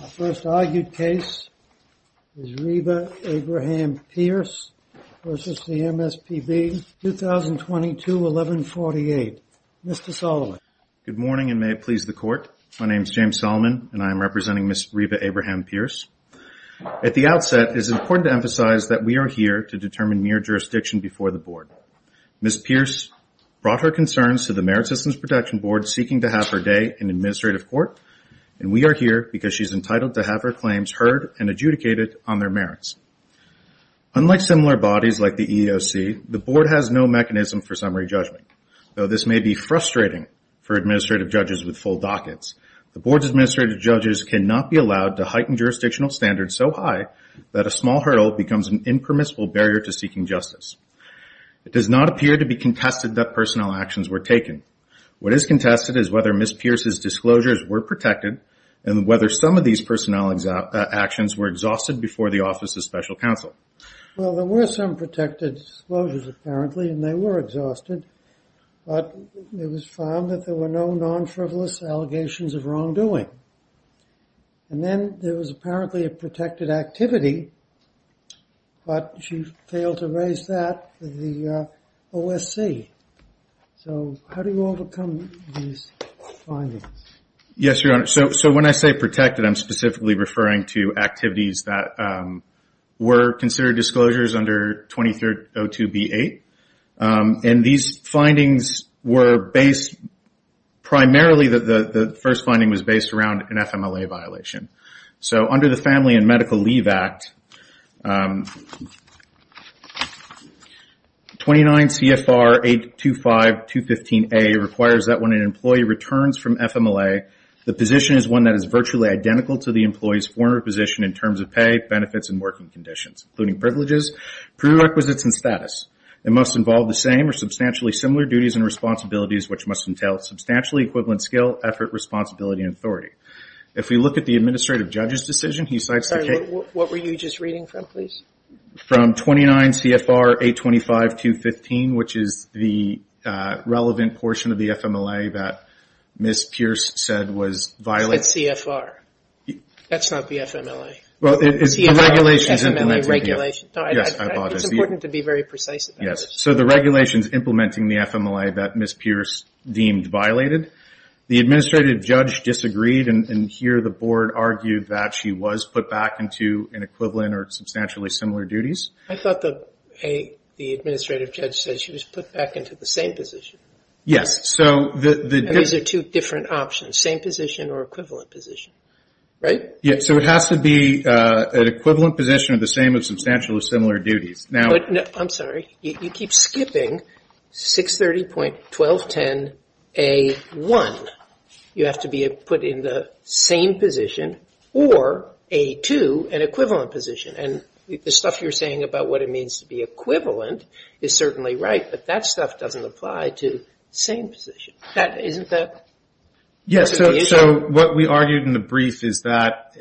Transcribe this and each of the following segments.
The first argued case is Reba Abraham-Pierce v. MSPB, 2022-1148. Mr. Solomon. Good morning and may it please the Court. My name is James Solomon and I am representing Ms. Reba Abraham-Pierce. At the outset, it is important to emphasize that we are here to determine mere jurisdiction before the Board. Ms. Pierce brought her concerns to the Merit Systems Protection Board seeking to have her day in administrative court, and we are here because she is entitled to have her claims heard and adjudicated on their merits. Unlike similar bodies like the EEOC, the Board has no mechanism for summary judgment. Though this may be frustrating for administrative judges with full dockets, the Board's administrative judges cannot be allowed to heighten jurisdictional standards so high that a small hurdle becomes an impermissible barrier to seeking justice. It does not appear to be contested that personnel actions were taken. What is contested is whether Ms. Pierce's disclosures were protected and whether some of these personnel actions were exhausted before the Office of Special Counsel. Well, there were some protected disclosures apparently and they were exhausted, but it was found that there were no non-frivolous allegations of wrongdoing. And then there was apparently a protected activity, but she failed to raise that with the OSC. So how do you overcome these findings? Yes, Your Honor. So when I say protected, I'm specifically referring to activities that were considered disclosures under 2302b-8. And these findings were based primarily that the first finding was based around an FMLA violation. So under the Family and Medical Leave Act, 29 CFR 825-215A requires that when an employee returns from FMLA, the position is one that is virtually identical to the employee's former position in terms of pay, benefits, and working conditions, including privileges, prerequisites, and status. It must involve the same or substantially similar duties and responsibilities, which must entail substantially equivalent skill, effort, responsibility, and authority. If we look at the administrative judge's decision, he cites the case. Sorry, what were you just reading from, please? From 29 CFR 825-215, which is the relevant portion of the FMLA that Ms. Pierce said was violated. It's CFR. That's not the FMLA. Well, it's the regulations. It's the FMLA regulations. Yes, I apologize. It's important to be very precise about this. Yes, so the regulations implementing the FMLA that Ms. Pierce deemed violated. The administrative judge disagreed, and here the board argued that she was put back into an equivalent or substantially similar duties. I thought the administrative judge said she was put back into the same position. Yes. And these are two different options, same position or equivalent position, right? Yes, so it has to be an equivalent position or the same or substantially similar duties. I'm sorry. You keep skipping 630.1210A1. You have to be put in the same position or A2, an equivalent position, and the stuff you're saying about what it means to be equivalent is certainly right, but that stuff doesn't apply to same position. Isn't that part of the issue? Yes, so what we argued in the brief is that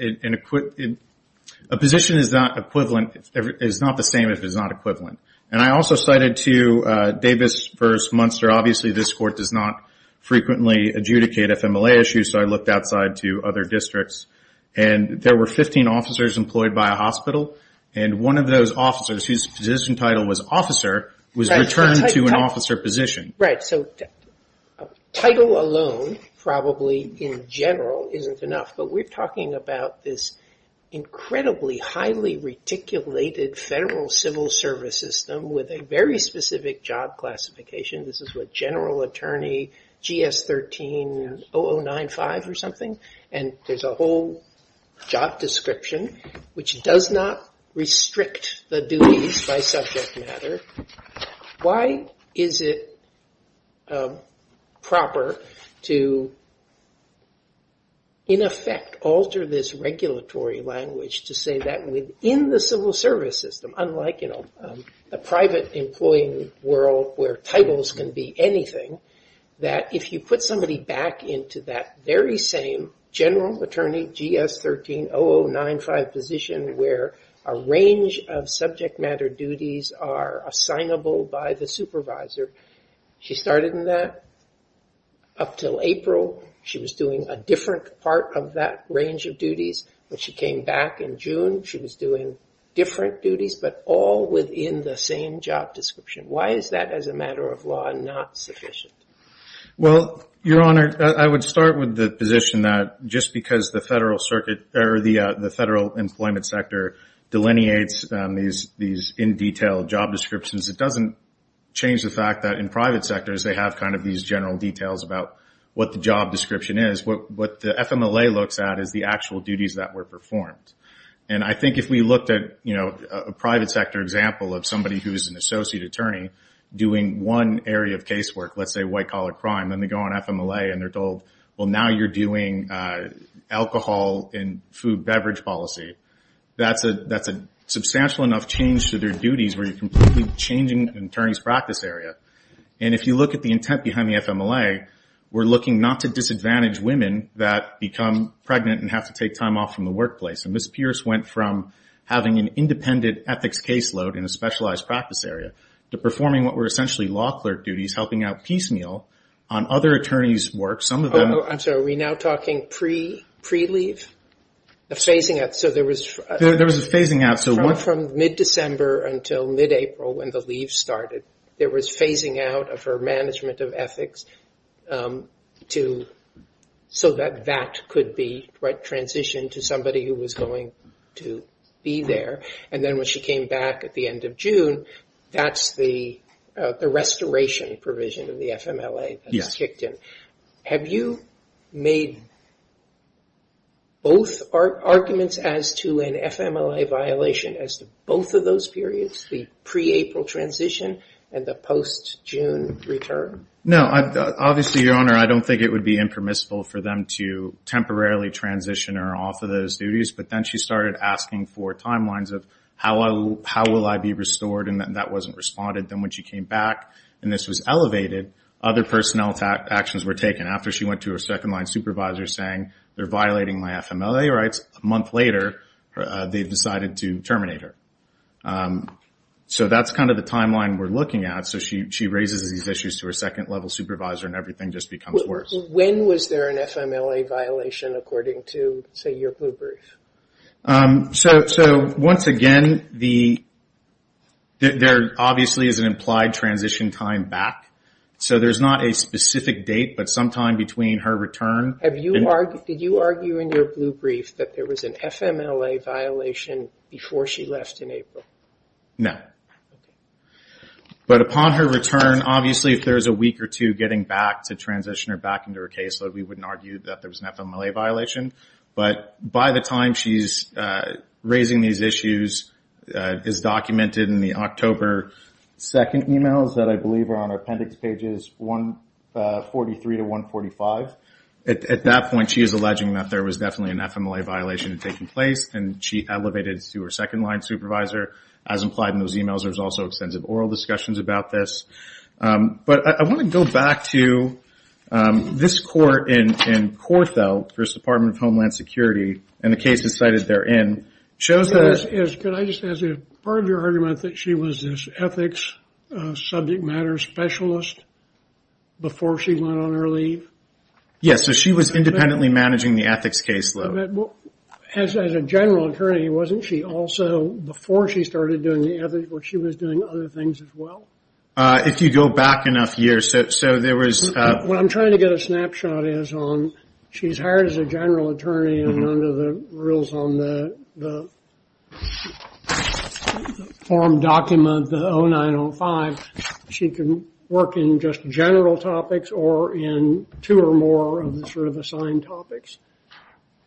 a position is not equivalent, is not the same if it's not equivalent. And I also cited to Davis versus Munster, obviously this court does not frequently adjudicate FMLA issues, so I looked outside to other districts, and there were 15 officers employed by a hospital, and one of those officers whose position title was officer was returned to an officer position. Right, so title alone probably in general isn't enough, but we're talking about this incredibly highly reticulated federal civil service system with a very specific job classification. This is what general attorney GS-13-0095 or something, and there's a whole job description which does not restrict the duties by subject matter. Why is it proper to, in effect, alter this regulatory language to say that within the civil service system, unlike in a private employee world where titles can be anything, that if you put somebody back into that very same general attorney GS-13-0095 position where a range of subject matter duties are assignable by the supervisor, she started in that up until April. She was doing a different part of that range of duties, but she came back in June. She was doing different duties, but all within the same job description. Why is that, as a matter of law, not sufficient? Well, Your Honor, I would start with the position that just because the federal circuit or the federal employment sector delineates these in-detail job descriptions, it doesn't change the fact that in private sectors they have kind of these general details about what the job description is. What the FMLA looks at is the actual duties that were performed, and I think if we looked at a private sector example of somebody who is an associate attorney doing one area of casework, let's say white-collar crime, and they go on FMLA and they're told, well, now you're doing alcohol and food beverage policy, that's a substantial enough change to their duties where you're completely changing an attorney's practice area. And if you look at the intent behind the FMLA, we're looking not to disadvantage women that become pregnant and have to take time off from the workplace. And Ms. Pierce went from having an independent ethics caseload in a specialized practice area to performing what were essentially law clerk duties, helping out piecemeal on other attorneys' work. I'm sorry, are we now talking pre-leave? There was a phasing out. From mid-December until mid-April when the leave started, there was phasing out of her management of ethics so that that could be transitioned to somebody who was going to be there. And then when she came back at the end of June, that's the restoration provision of the FMLA that was kicked in. Yes. Have you made both arguments as to an FMLA violation as to both of those periods, the pre-April transition and the post-June return? No. Obviously, Your Honor, I don't think it would be impermissible for them to temporarily transition her off of those duties. But then she started asking for timelines of how will I be restored, and that wasn't responded. Then when she came back and this was elevated, other personnel actions were taken. After she went to her second-line supervisor saying they're violating my FMLA rights, a month later they decided to terminate her. So that's kind of the timeline we're looking at. So she raises these issues to her second-level supervisor, and everything just becomes worse. When was there an FMLA violation, according to, say, your blue brief? Once again, there obviously is an implied transition time back. So there's not a specific date, but sometime between her return. Did you argue in your blue brief that there was an FMLA violation before she left in April? No. But upon her return, obviously if there's a week or two getting back to transition her back into her caseload, we wouldn't argue that there was an FMLA violation. But by the time she's raising these issues, it's documented in the October 2nd emails that I believe are on our appendix pages 143 to 145. At that point, she is alleging that there was definitely an FMLA violation taking place, and she elevated it to her second-line supervisor, as implied in those emails. There's also extensive oral discussions about this. But I want to go back to this court in Korthel, the Department of Homeland Security, and the case is cited therein. Part of your argument is that she was this ethics subject matter specialist before she went on her leave? Yes, so she was independently managing the ethics caseload. As a general attorney, wasn't she also, before she started doing the ethics, she was doing other things as well? If you go back enough years, so there was... What I'm trying to get a snapshot is on, she's hired as a general attorney, and under the rules on the form document, the 0905, she can work in just general topics or in two or more of the sort of assigned topics.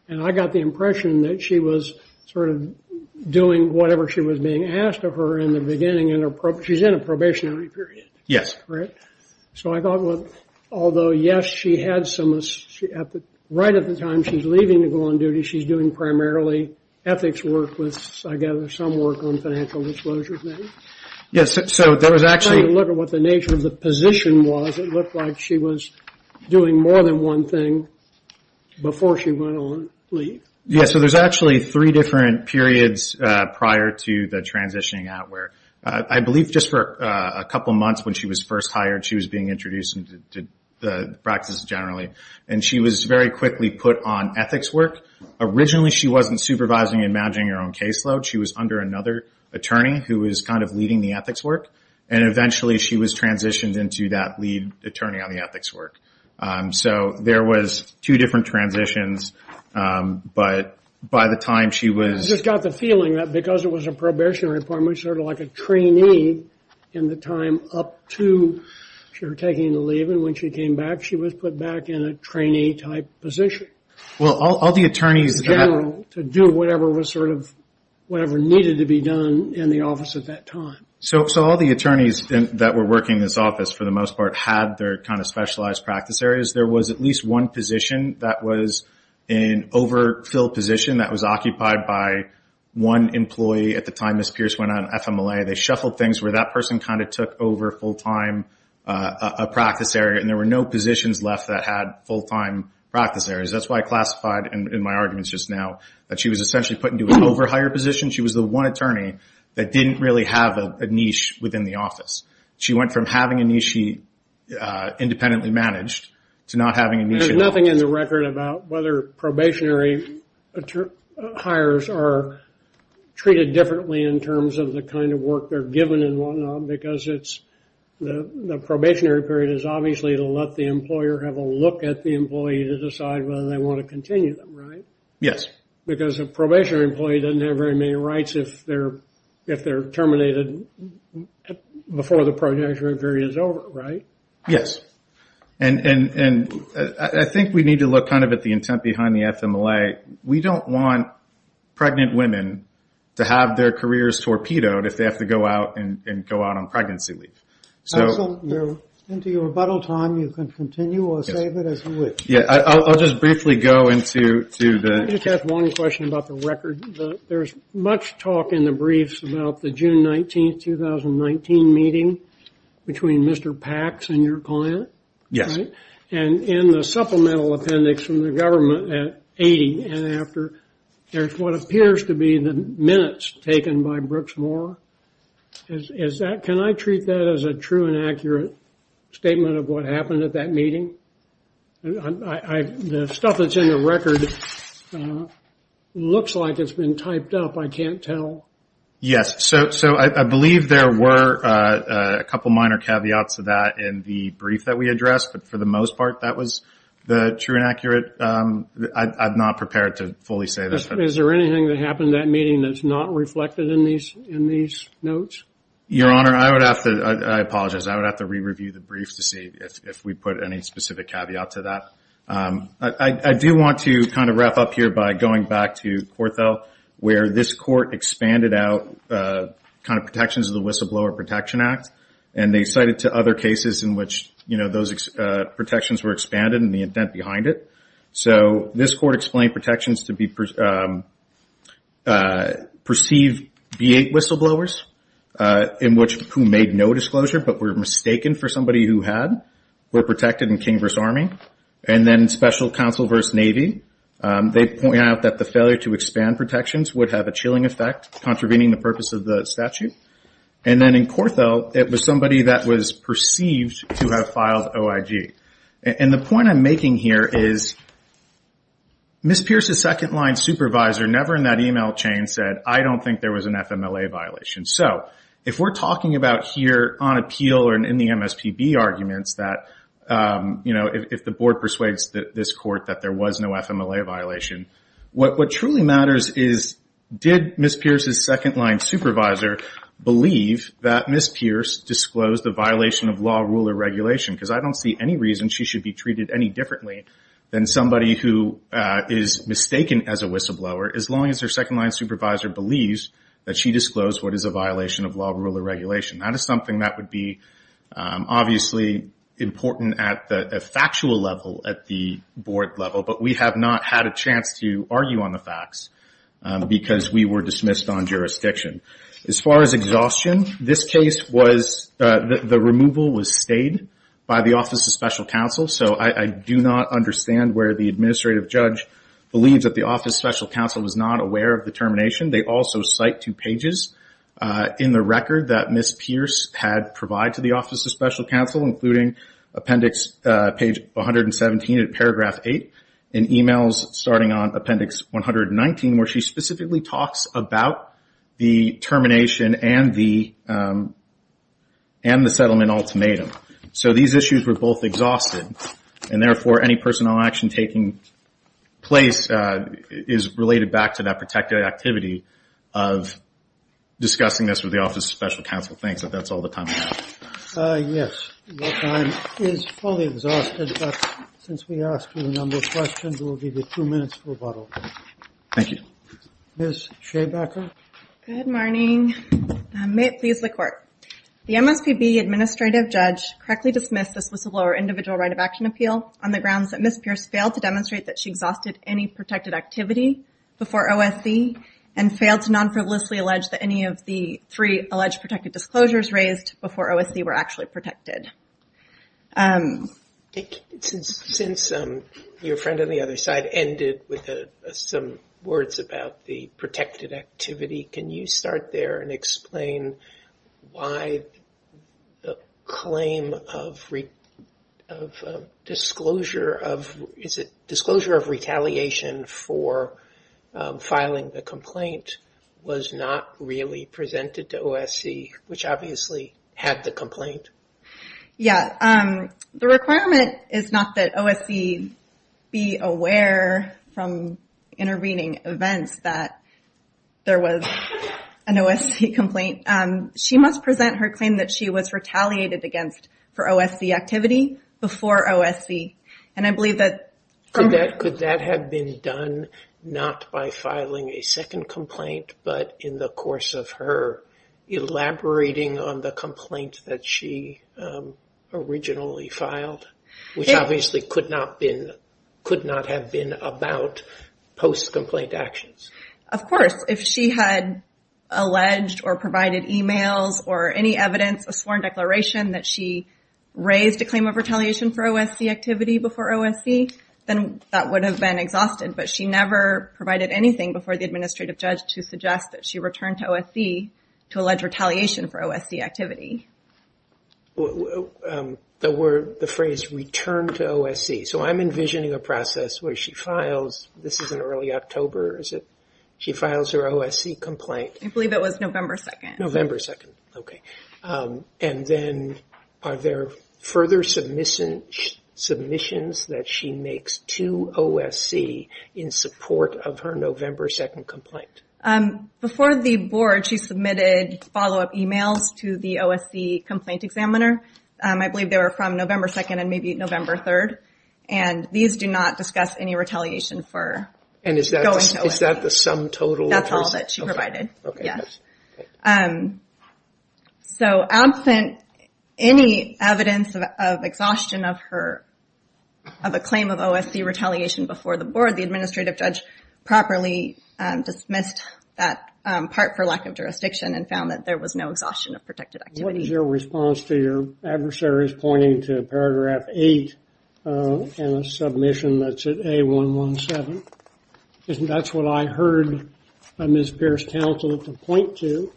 And I got the impression that she was sort of doing whatever she was being asked of her in the beginning, and she's in a probationary period. Yes. Right? So I thought, although, yes, she had some... Right at the time she's leaving to go on duty, she's doing primarily ethics work with, I gather, some work on financial disclosures maybe? Yes, so there was actually... Trying to look at what the nature of the position was, it looked like she was doing more than one thing before she went on leave. Yes, so there's actually three different periods prior to the transitioning out where, I believe just for a couple months when she was first hired, she was being introduced into the practice generally, and she was very quickly put on ethics work. Originally, she wasn't supervising and managing her own caseload. She was under another attorney who was kind of leading the ethics work, and eventually she was transitioned into that lead attorney on the ethics work. So there was two different transitions, but by the time she was... I just got the feeling that because it was a probationary appointment, sort of like a trainee in the time up to her taking the leave, and when she came back she was put back in a trainee-type position. Well, all the attorneys... To do whatever was sort of... Whatever needed to be done in the office at that time. So all the attorneys that were working this office, for the most part, had their kind of specialized practice areas. There was at least one position that was an overfill position that was occupied by one employee at the time Ms. Pierce went on FMLA. They shuffled things where that person kind of took over full-time a practice area, and there were no positions left that had full-time practice areas. That's why I classified in my arguments just now that she was essentially put into an over-hire position. She was the one attorney that didn't really have a niche within the office. She went from having a niche independently managed to not having a niche in the office. There's nothing in the record about whether probationary hires are treated differently in terms of the kind of work they're given and whatnot, because the probationary period is obviously to let the employer have a look at the employee to decide whether they want to continue them, right? Yes. Because a probationary employee doesn't have very many rights if they're terminated before the protectionary period is over, right? Yes. And I think we need to look kind of at the intent behind the FMLA. We don't want pregnant women to have their careers torpedoed if they have to go out and go out on pregnancy leave. Into your rebuttal time, you can continue or save it as you wish. Yeah, I'll just briefly go into the- I just have one question about the record. There's much talk in the briefs about the June 19, 2019 meeting between Mr. Pax and your client, right? Yes. And in the supplemental appendix from the government at 80 and after, there's what appears to be the minutes taken by Brooks Moore. Can I treat that as a true and accurate statement of what happened at that meeting? The stuff that's in the record looks like it's been typed up. I can't tell. Yes. So I believe there were a couple minor caveats to that in the brief that we addressed, but for the most part, that was the true and accurate. I'm not prepared to fully say this. Is there anything that happened at that meeting that's not reflected in these notes? Your Honor, I apologize. I would have to re-review the brief to see if we put any specific caveat to that. I do want to kind of wrap up here by going back to Corthell, where this court expanded out kind of protections of the Whistleblower Protection Act, and they cited to other cases in which those protections were expanded and the intent behind it. So this court explained protections to be perceived V-8 whistleblowers, in which who made no disclosure but were mistaken for somebody who had, were protected in King v. Army. And then Special Counsel v. Navy, they point out that the failure to expand protections would have a chilling effect, contravening the purpose of the statute. And then in Corthell, it was somebody that was perceived to have filed OIG. And the point I'm making here is Ms. Pierce's second-line supervisor never in that email chain said, I don't think there was an FMLA violation. So if we're talking about here on appeal or in the MSPB arguments that, you know, if the board persuades this court that there was no FMLA violation, what truly matters is did Ms. Pierce's second-line supervisor believe that Ms. Pierce disclosed the violation of law, rule, or regulation? Because I don't see any reason she should be treated any differently than somebody who is mistaken as a whistleblower, as long as her second-line supervisor believes that she disclosed what is a violation of law, rule, or regulation. That is something that would be obviously important at the factual level, at the board level. But we have not had a chance to argue on the facts because we were dismissed on jurisdiction. As far as exhaustion, this case was the removal was stayed by the Office of Special Counsel. So I do not understand where the administrative judge believes that the Office of Special Counsel was not aware of the termination. They also cite two pages in the record that Ms. Pierce had provided to the Office of Special Counsel, including appendix page 117 in paragraph 8, and emails starting on appendix 119 where she specifically talks about the termination and the settlement ultimatum. So these issues were both exhausted, and therefore, any personnel action taking place is related back to that protected activity of discussing this with the Office of Special Counsel. Thanks, but that's all the time I have. Yes, your time is fully exhausted, but since we asked you a number of questions, we'll give you two minutes for rebuttal. Thank you. Ms. Shabacker? Good morning. May it please the Court. The MSPB administrative judge correctly dismissed this was a lower individual right of action appeal on the grounds that Ms. Pierce failed to demonstrate that she exhausted any protected activity before OSB and failed to non-frivolously allege that any of the three alleged protected disclosures raised before OSB were actually protected. Since your friend on the other side ended with some words about the protected activity, can you start there and explain why the claim of disclosure of retaliation for filing the complaint was not really presented to OSC, which obviously had the complaint? Yes. The requirement is not that OSC be aware from intervening events that there was an OSC complaint. She must present her claim that she was retaliated against for OSC activity before OSC, and I believe that... Could that have been done not by filing a second complaint, but in the course of her elaborating on the complaint that she originally filed, which obviously could not have been about post-complaint actions? Of course. If she had alleged or provided emails or any evidence, a sworn declaration, that she raised a claim of retaliation for OSC activity before OSC, then that would have been exhausted, but she never provided anything before the administrative judge to suggest that she returned to OSC to allege retaliation for OSC activity. The phrase returned to OSC, so I'm envisioning a process where she files... This is in early October, is it? She files her OSC complaint. I believe it was November 2nd. November 2nd, okay. And then are there further submissions that she makes to OSC in support of her November 2nd complaint? Before the board, she submitted follow-up emails to the OSC complaint examiner. I believe they were from November 2nd and maybe November 3rd, and these do not discuss any retaliation for going to OSC. Is that the sum total? That's all that she provided, yes. So absent any evidence of exhaustion of a claim of OSC retaliation before the board, the administrative judge properly dismissed that part for lack of jurisdiction and found that there was no exhaustion of protected activity. What is your response to your adversaries pointing to paragraph 8 in the submission that's at A117? That's what I heard Ms. Pierce counsel to point to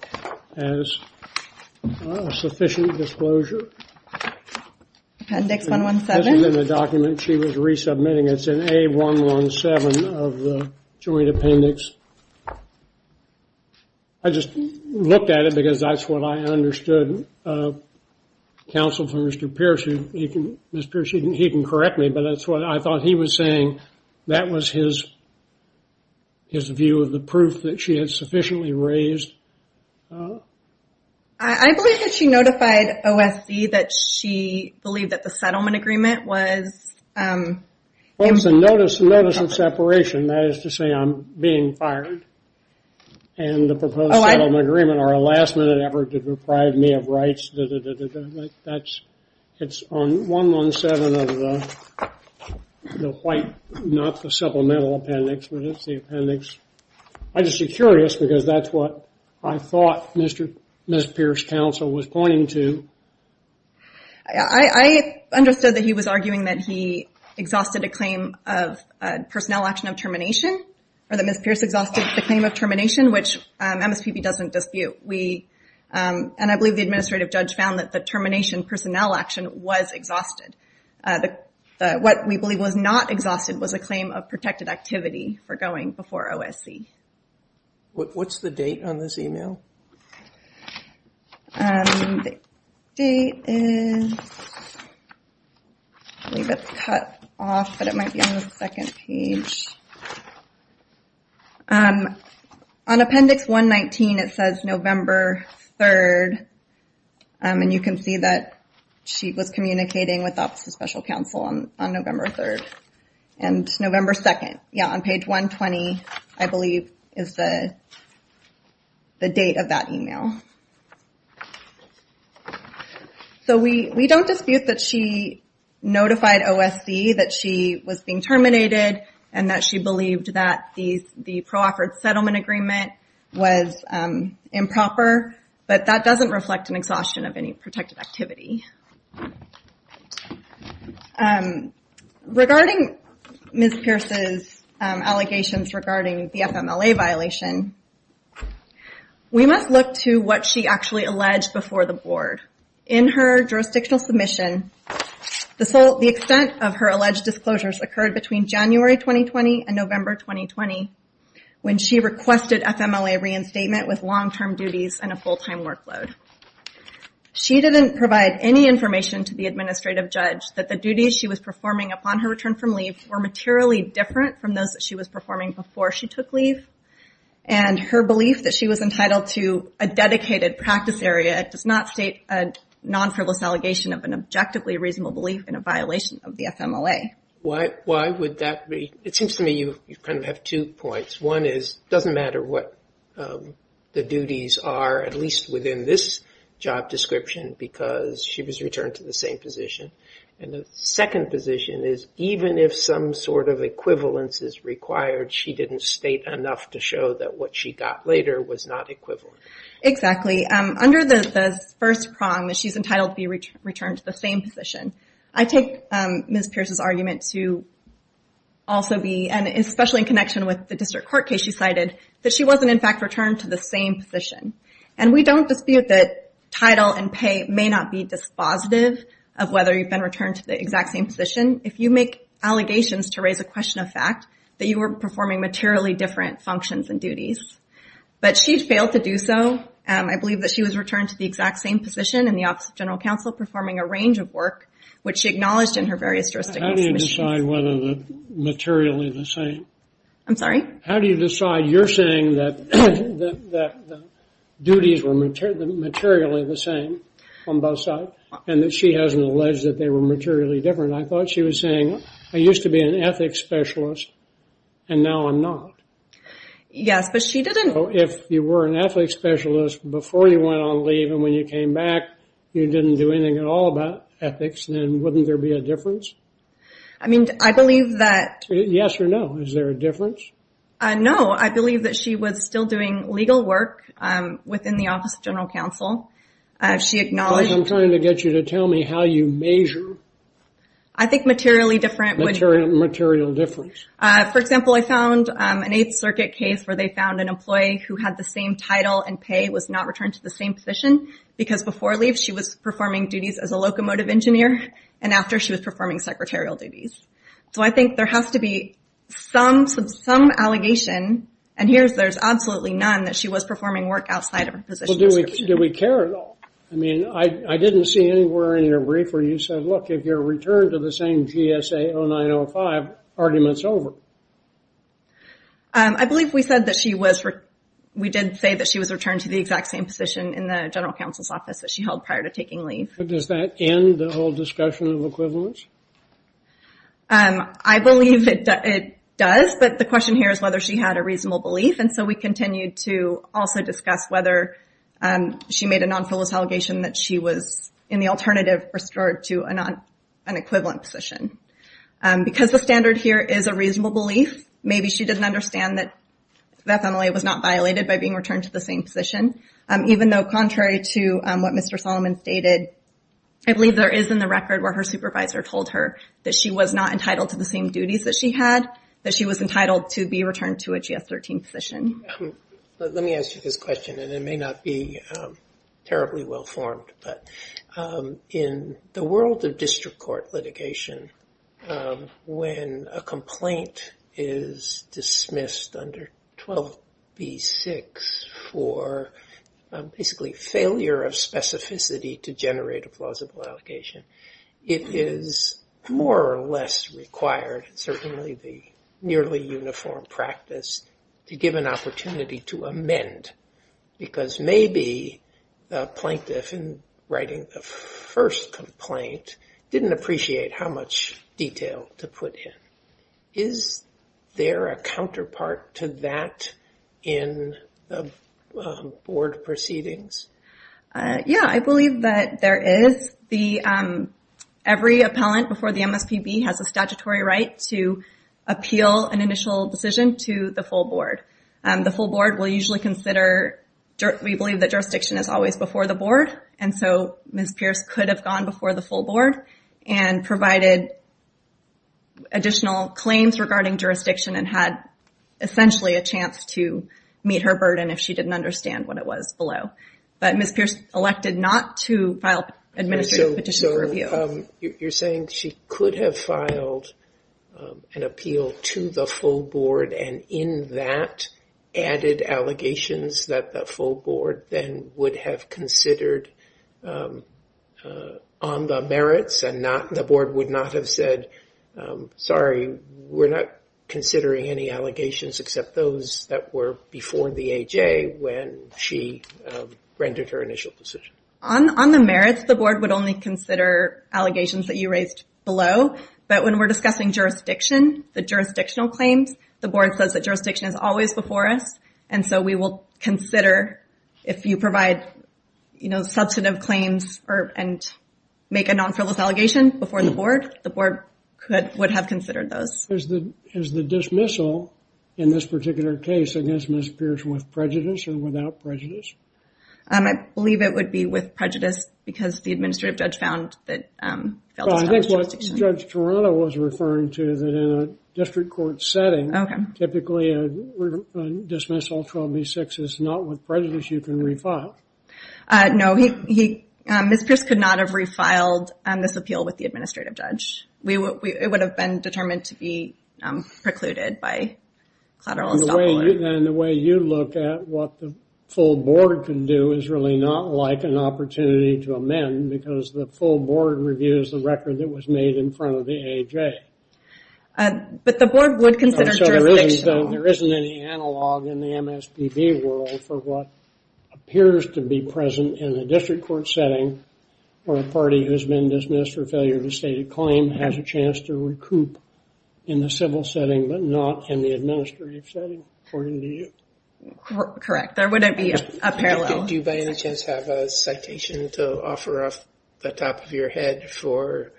as sufficient disclosure. Appendix 117. It wasn't in the document she was resubmitting. It's in A117 of the joint appendix. I just looked at it because that's what I understood counsel from Mr. Pierce. He can correct me, but that's what I thought he was saying. That was his view of the proof that she had sufficiently raised. I believe that she notified OSC that she believed that the settlement agreement was... It was a notice of separation. That is to say I'm being fired and the proposed settlement agreement or a last-minute effort to deprive me of rights. It's on 117 of the white, not the supplemental appendix, but it's the appendix. I'm just curious because that's what I thought Ms. Pierce counsel was pointing to. I understood that he was arguing that he exhausted a claim of personnel action of termination or that Ms. Pierce exhausted the claim of termination, which MSPB doesn't dispute. I believe the administrative judge found that the termination personnel action was exhausted. What we believe was not exhausted was a claim of protected activity for going before OSC. What's the date on this email? The date is... I believe it's cut off, but it might be on the second page. On appendix 119, it says November 3rd. You can see that she was communicating with Office of Special Counsel on November 3rd and November 2nd. On page 120, I believe, is the date of that email. We don't dispute that she notified OSC that she was being terminated and that she believed that the pro-offered settlement agreement was improper, but that doesn't reflect an exhaustion of any protected activity. Regarding Ms. Pierce's allegations regarding the FMLA violation, we must look to what she actually alleged before the board. In her jurisdictional submission, the extent of her alleged disclosures occurred between January 2020 and November 2020 when she requested FMLA reinstatement with long-term duties and a full-time workload. She didn't provide any information to the administrative judge that the duties she was performing upon her return from leave were materially different from those that she was performing before she took leave. Her belief that she was entitled to a dedicated practice area does not state a non-frivolous allegation of an objectively reasonable belief in a violation of the FMLA. It seems to me you have two points. One is, it doesn't matter what the duties are, at least within this job description, because she was returned to the same position. And the second position is, even if some sort of equivalence is required, she didn't state enough to show that what she got later was not equivalent. Exactly. Under the first prong that she's entitled to be returned to the same position, I take Ms. Pierce's argument to also be, and especially in connection with the district court case she cited, that she wasn't, in fact, returned to the same position. And we don't dispute that title and pay may not be dispositive of whether you've been returned to the exact same position. If you make allegations to raise a question of fact, that you were performing materially different functions and duties. But she failed to do so. I believe that she was returned to the exact same position in the Office of General Counsel, performing a range of work, which she acknowledged in her various jurisdictions. How do you decide whether they're materially the same? I'm sorry? How do you decide? You're saying that duties were materially the same on both sides, and that she hasn't alleged that they were materially different. I thought she was saying, I used to be an ethics specialist and now I'm not. If you were an ethics specialist before you went on leave and when you came back you didn't do anything at all about ethics, then wouldn't there be a difference? I mean, I believe that. Yes or no, is there a difference? No, I believe that she was still doing legal work within the Office of General Counsel. She acknowledged. I'm trying to get you to tell me how you measure. I think materially different. Material difference. For example, I found an Eighth Circuit case where they found an employee who had the same title and pay was not returned to the same position because before leave she was performing duties as a locomotive engineer, and after she was performing secretarial duties. So I think there has to be some allegation, and here's there's absolutely none, that she was performing work outside of her position. Do we care at all? I mean, I didn't see anywhere in your brief where you said, look, if you're returned to the same GSA 0905, argument's over. I believe we said that she was. We did say that she was returned to the exact same position in the General Counsel's office that she held prior to taking leave. Does that end the whole discussion of equivalence? I believe that it does. But the question here is whether she had a reasonable belief. And so we continue to also discuss whether she made a non-flawless allegation that she was in the alternative restored to an equivalent position. Because the standard here is a reasonable belief, maybe she didn't understand that FMLA was not violated by being returned to the same position, even though contrary to what Mr. Solomon stated, I believe there is in the record where her supervisor told her that she was not entitled to the same duties that she had, that she was entitled to be returned to a GS-13 position. Let me ask you this question, and it may not be terribly well-formed. In the world of district court litigation, when a complaint is dismissed under 12b-6 for basically failure of specificity to generate a plausible allegation, it is more or less required, certainly the nearly uniform practice, to give an opportunity to amend. Because maybe the plaintiff in writing the first complaint didn't appreciate how much detail to put in. Is there a counterpart to that in the board proceedings? Yeah, I believe that there is. Every appellant before the MSPB has a statutory right to appeal an initial decision to the full board. The full board will usually consider, we believe that jurisdiction is always before the board, and so Ms. Pierce could have gone before the full board and provided additional claims regarding jurisdiction and had essentially a chance to meet her burden if she didn't understand what it was below. But Ms. Pierce elected not to file administrative petitions for review. You're saying she could have filed an appeal to the full board and in that, added allegations that the full board then would have considered on the merits and the board would not have said, sorry, we're not considering any allegations except those that were before the AJ when she rendered her initial decision? On the merits, the board would only consider allegations that you raised below, but when we're discussing jurisdiction, the jurisdictional claims, the board says that jurisdiction is always before us, and so we will consider if you provide substantive claims and make a non-frivolous allegation before the board, the board would have considered those. Is the dismissal in this particular case against Ms. Pierce with prejudice or without prejudice? I believe it would be with prejudice because the administrative judge found that... Judge Toronto was referring to that in a district court setting, typically a dismissal 12B6 is not with prejudice, you can refile. No, Ms. Pierce could not have refiled this appeal with the administrative judge. It would have been determined to be precluded by collateral... And the way you look at what the full board can do is really not like an opportunity to amend because the full board reviews the record that was made in front of the AJ. But the board would consider jurisdiction... There isn't any analog in the MSPB world for what appears to be present in the district court setting where a party who has been dismissed for failure of a stated claim has a chance to recoup in the civil setting, but not in the administrative setting, according to you. Correct. There wouldn't be a parallel. Do you by any chance have a citation to offer off the top of your head for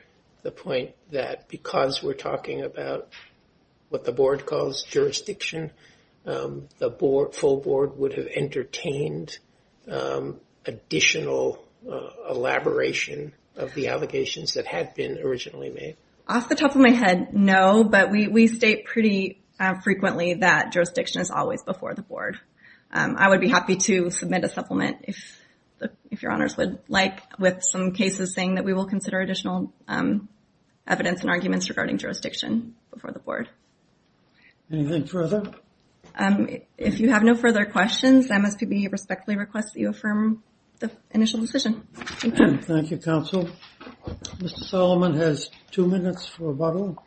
the point that because we're talking about what the board calls jurisdiction, the full board would have entertained additional elaboration of the allegations that had been originally made? Off the top of my head, no, but we state pretty frequently that jurisdiction is always before the board. I would be happy to submit a supplement if your honors would like with some cases saying that we will consider additional evidence and arguments regarding jurisdiction before the board. Anything further? If you have no further questions, the MSPB respectfully requests that you affirm the initial decision. Thank you, counsel. Mr. Solomon has two minutes for rebuttal.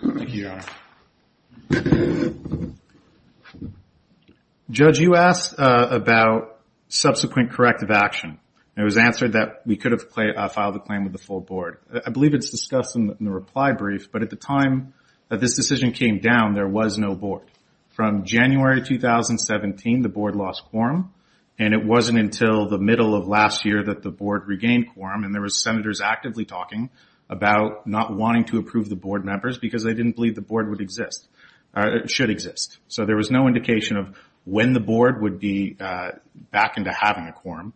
Thank you, your honor. Judge, you asked about subsequent corrective action. It was answered that we could have filed a claim with the full board. I believe it's discussed in the reply brief, but at the time that this decision came down, there was no board. From January 2017, the board lost quorum. It wasn't until the middle of last year that the board regained quorum. There were senators actively talking about not wanting to approve the board members because they didn't believe the board should exist. There was no indication of when the board would be back into having a quorum.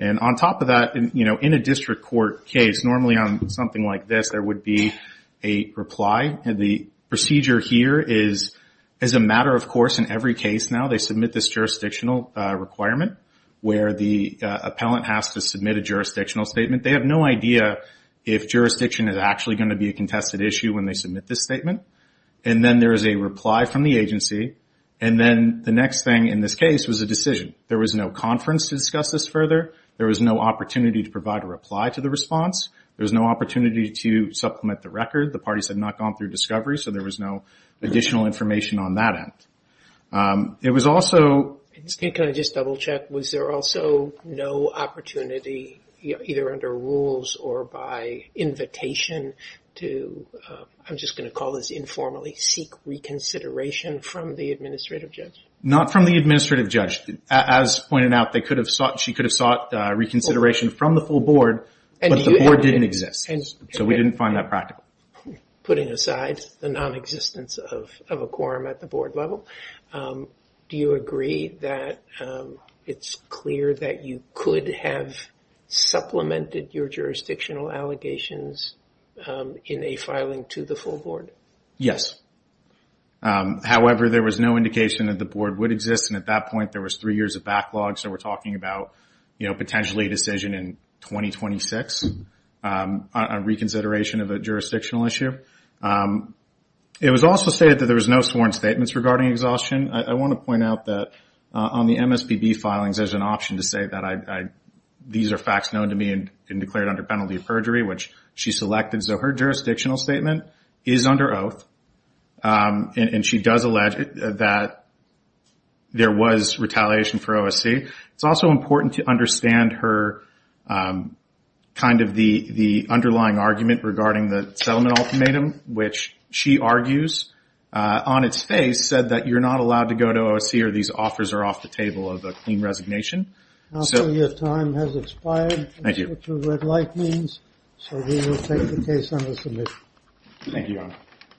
On top of that, in a district court case, normally on something like this, there would be a reply. The procedure here is a matter of course in every case now. They submit this jurisdictional requirement where the appellant has to submit a jurisdictional statement. They have no idea if jurisdiction is actually going to be a contested issue when they submit this statement. Then there is a reply from the agency. The next thing in this case was a decision. There was no conference to discuss this further. There was no opportunity to provide a reply to the response. There was no opportunity to supplement the record. The parties had not gone through discovery, so there was no additional information on that end. Can I just double check? Was there also no opportunity either under rules or by invitation to, I'm just going to call this informally, seek reconsideration from the administrative judge? Not from the administrative judge. As pointed out, she could have sought reconsideration from the full board, but the board didn't exist. We didn't find that practical. Putting aside the non-existence of a quorum at the board level, do you agree that it's clear that you could have supplemented your jurisdictional allegations in a filing to the full board? Yes. However, there was no indication that the board would exist. At that point, there was three years of backlog, so we're talking about potentially a decision in 2026. A reconsideration of a jurisdictional issue. It was also stated that there was no sworn statements regarding exhaustion. I want to point out that on the MSPB filings, there's an option to say that these are facts known to me and declared under penalty of perjury, which she selected. Her jurisdictional statement is under oath, and she does allege that there was retaliation for OSC. It's also important to understand her underlying argument regarding the settlement ultimatum, which she argues on its face said that you're not allowed to go to OSC or these offers are off the table of a clean resignation. Your time has expired. Thank you.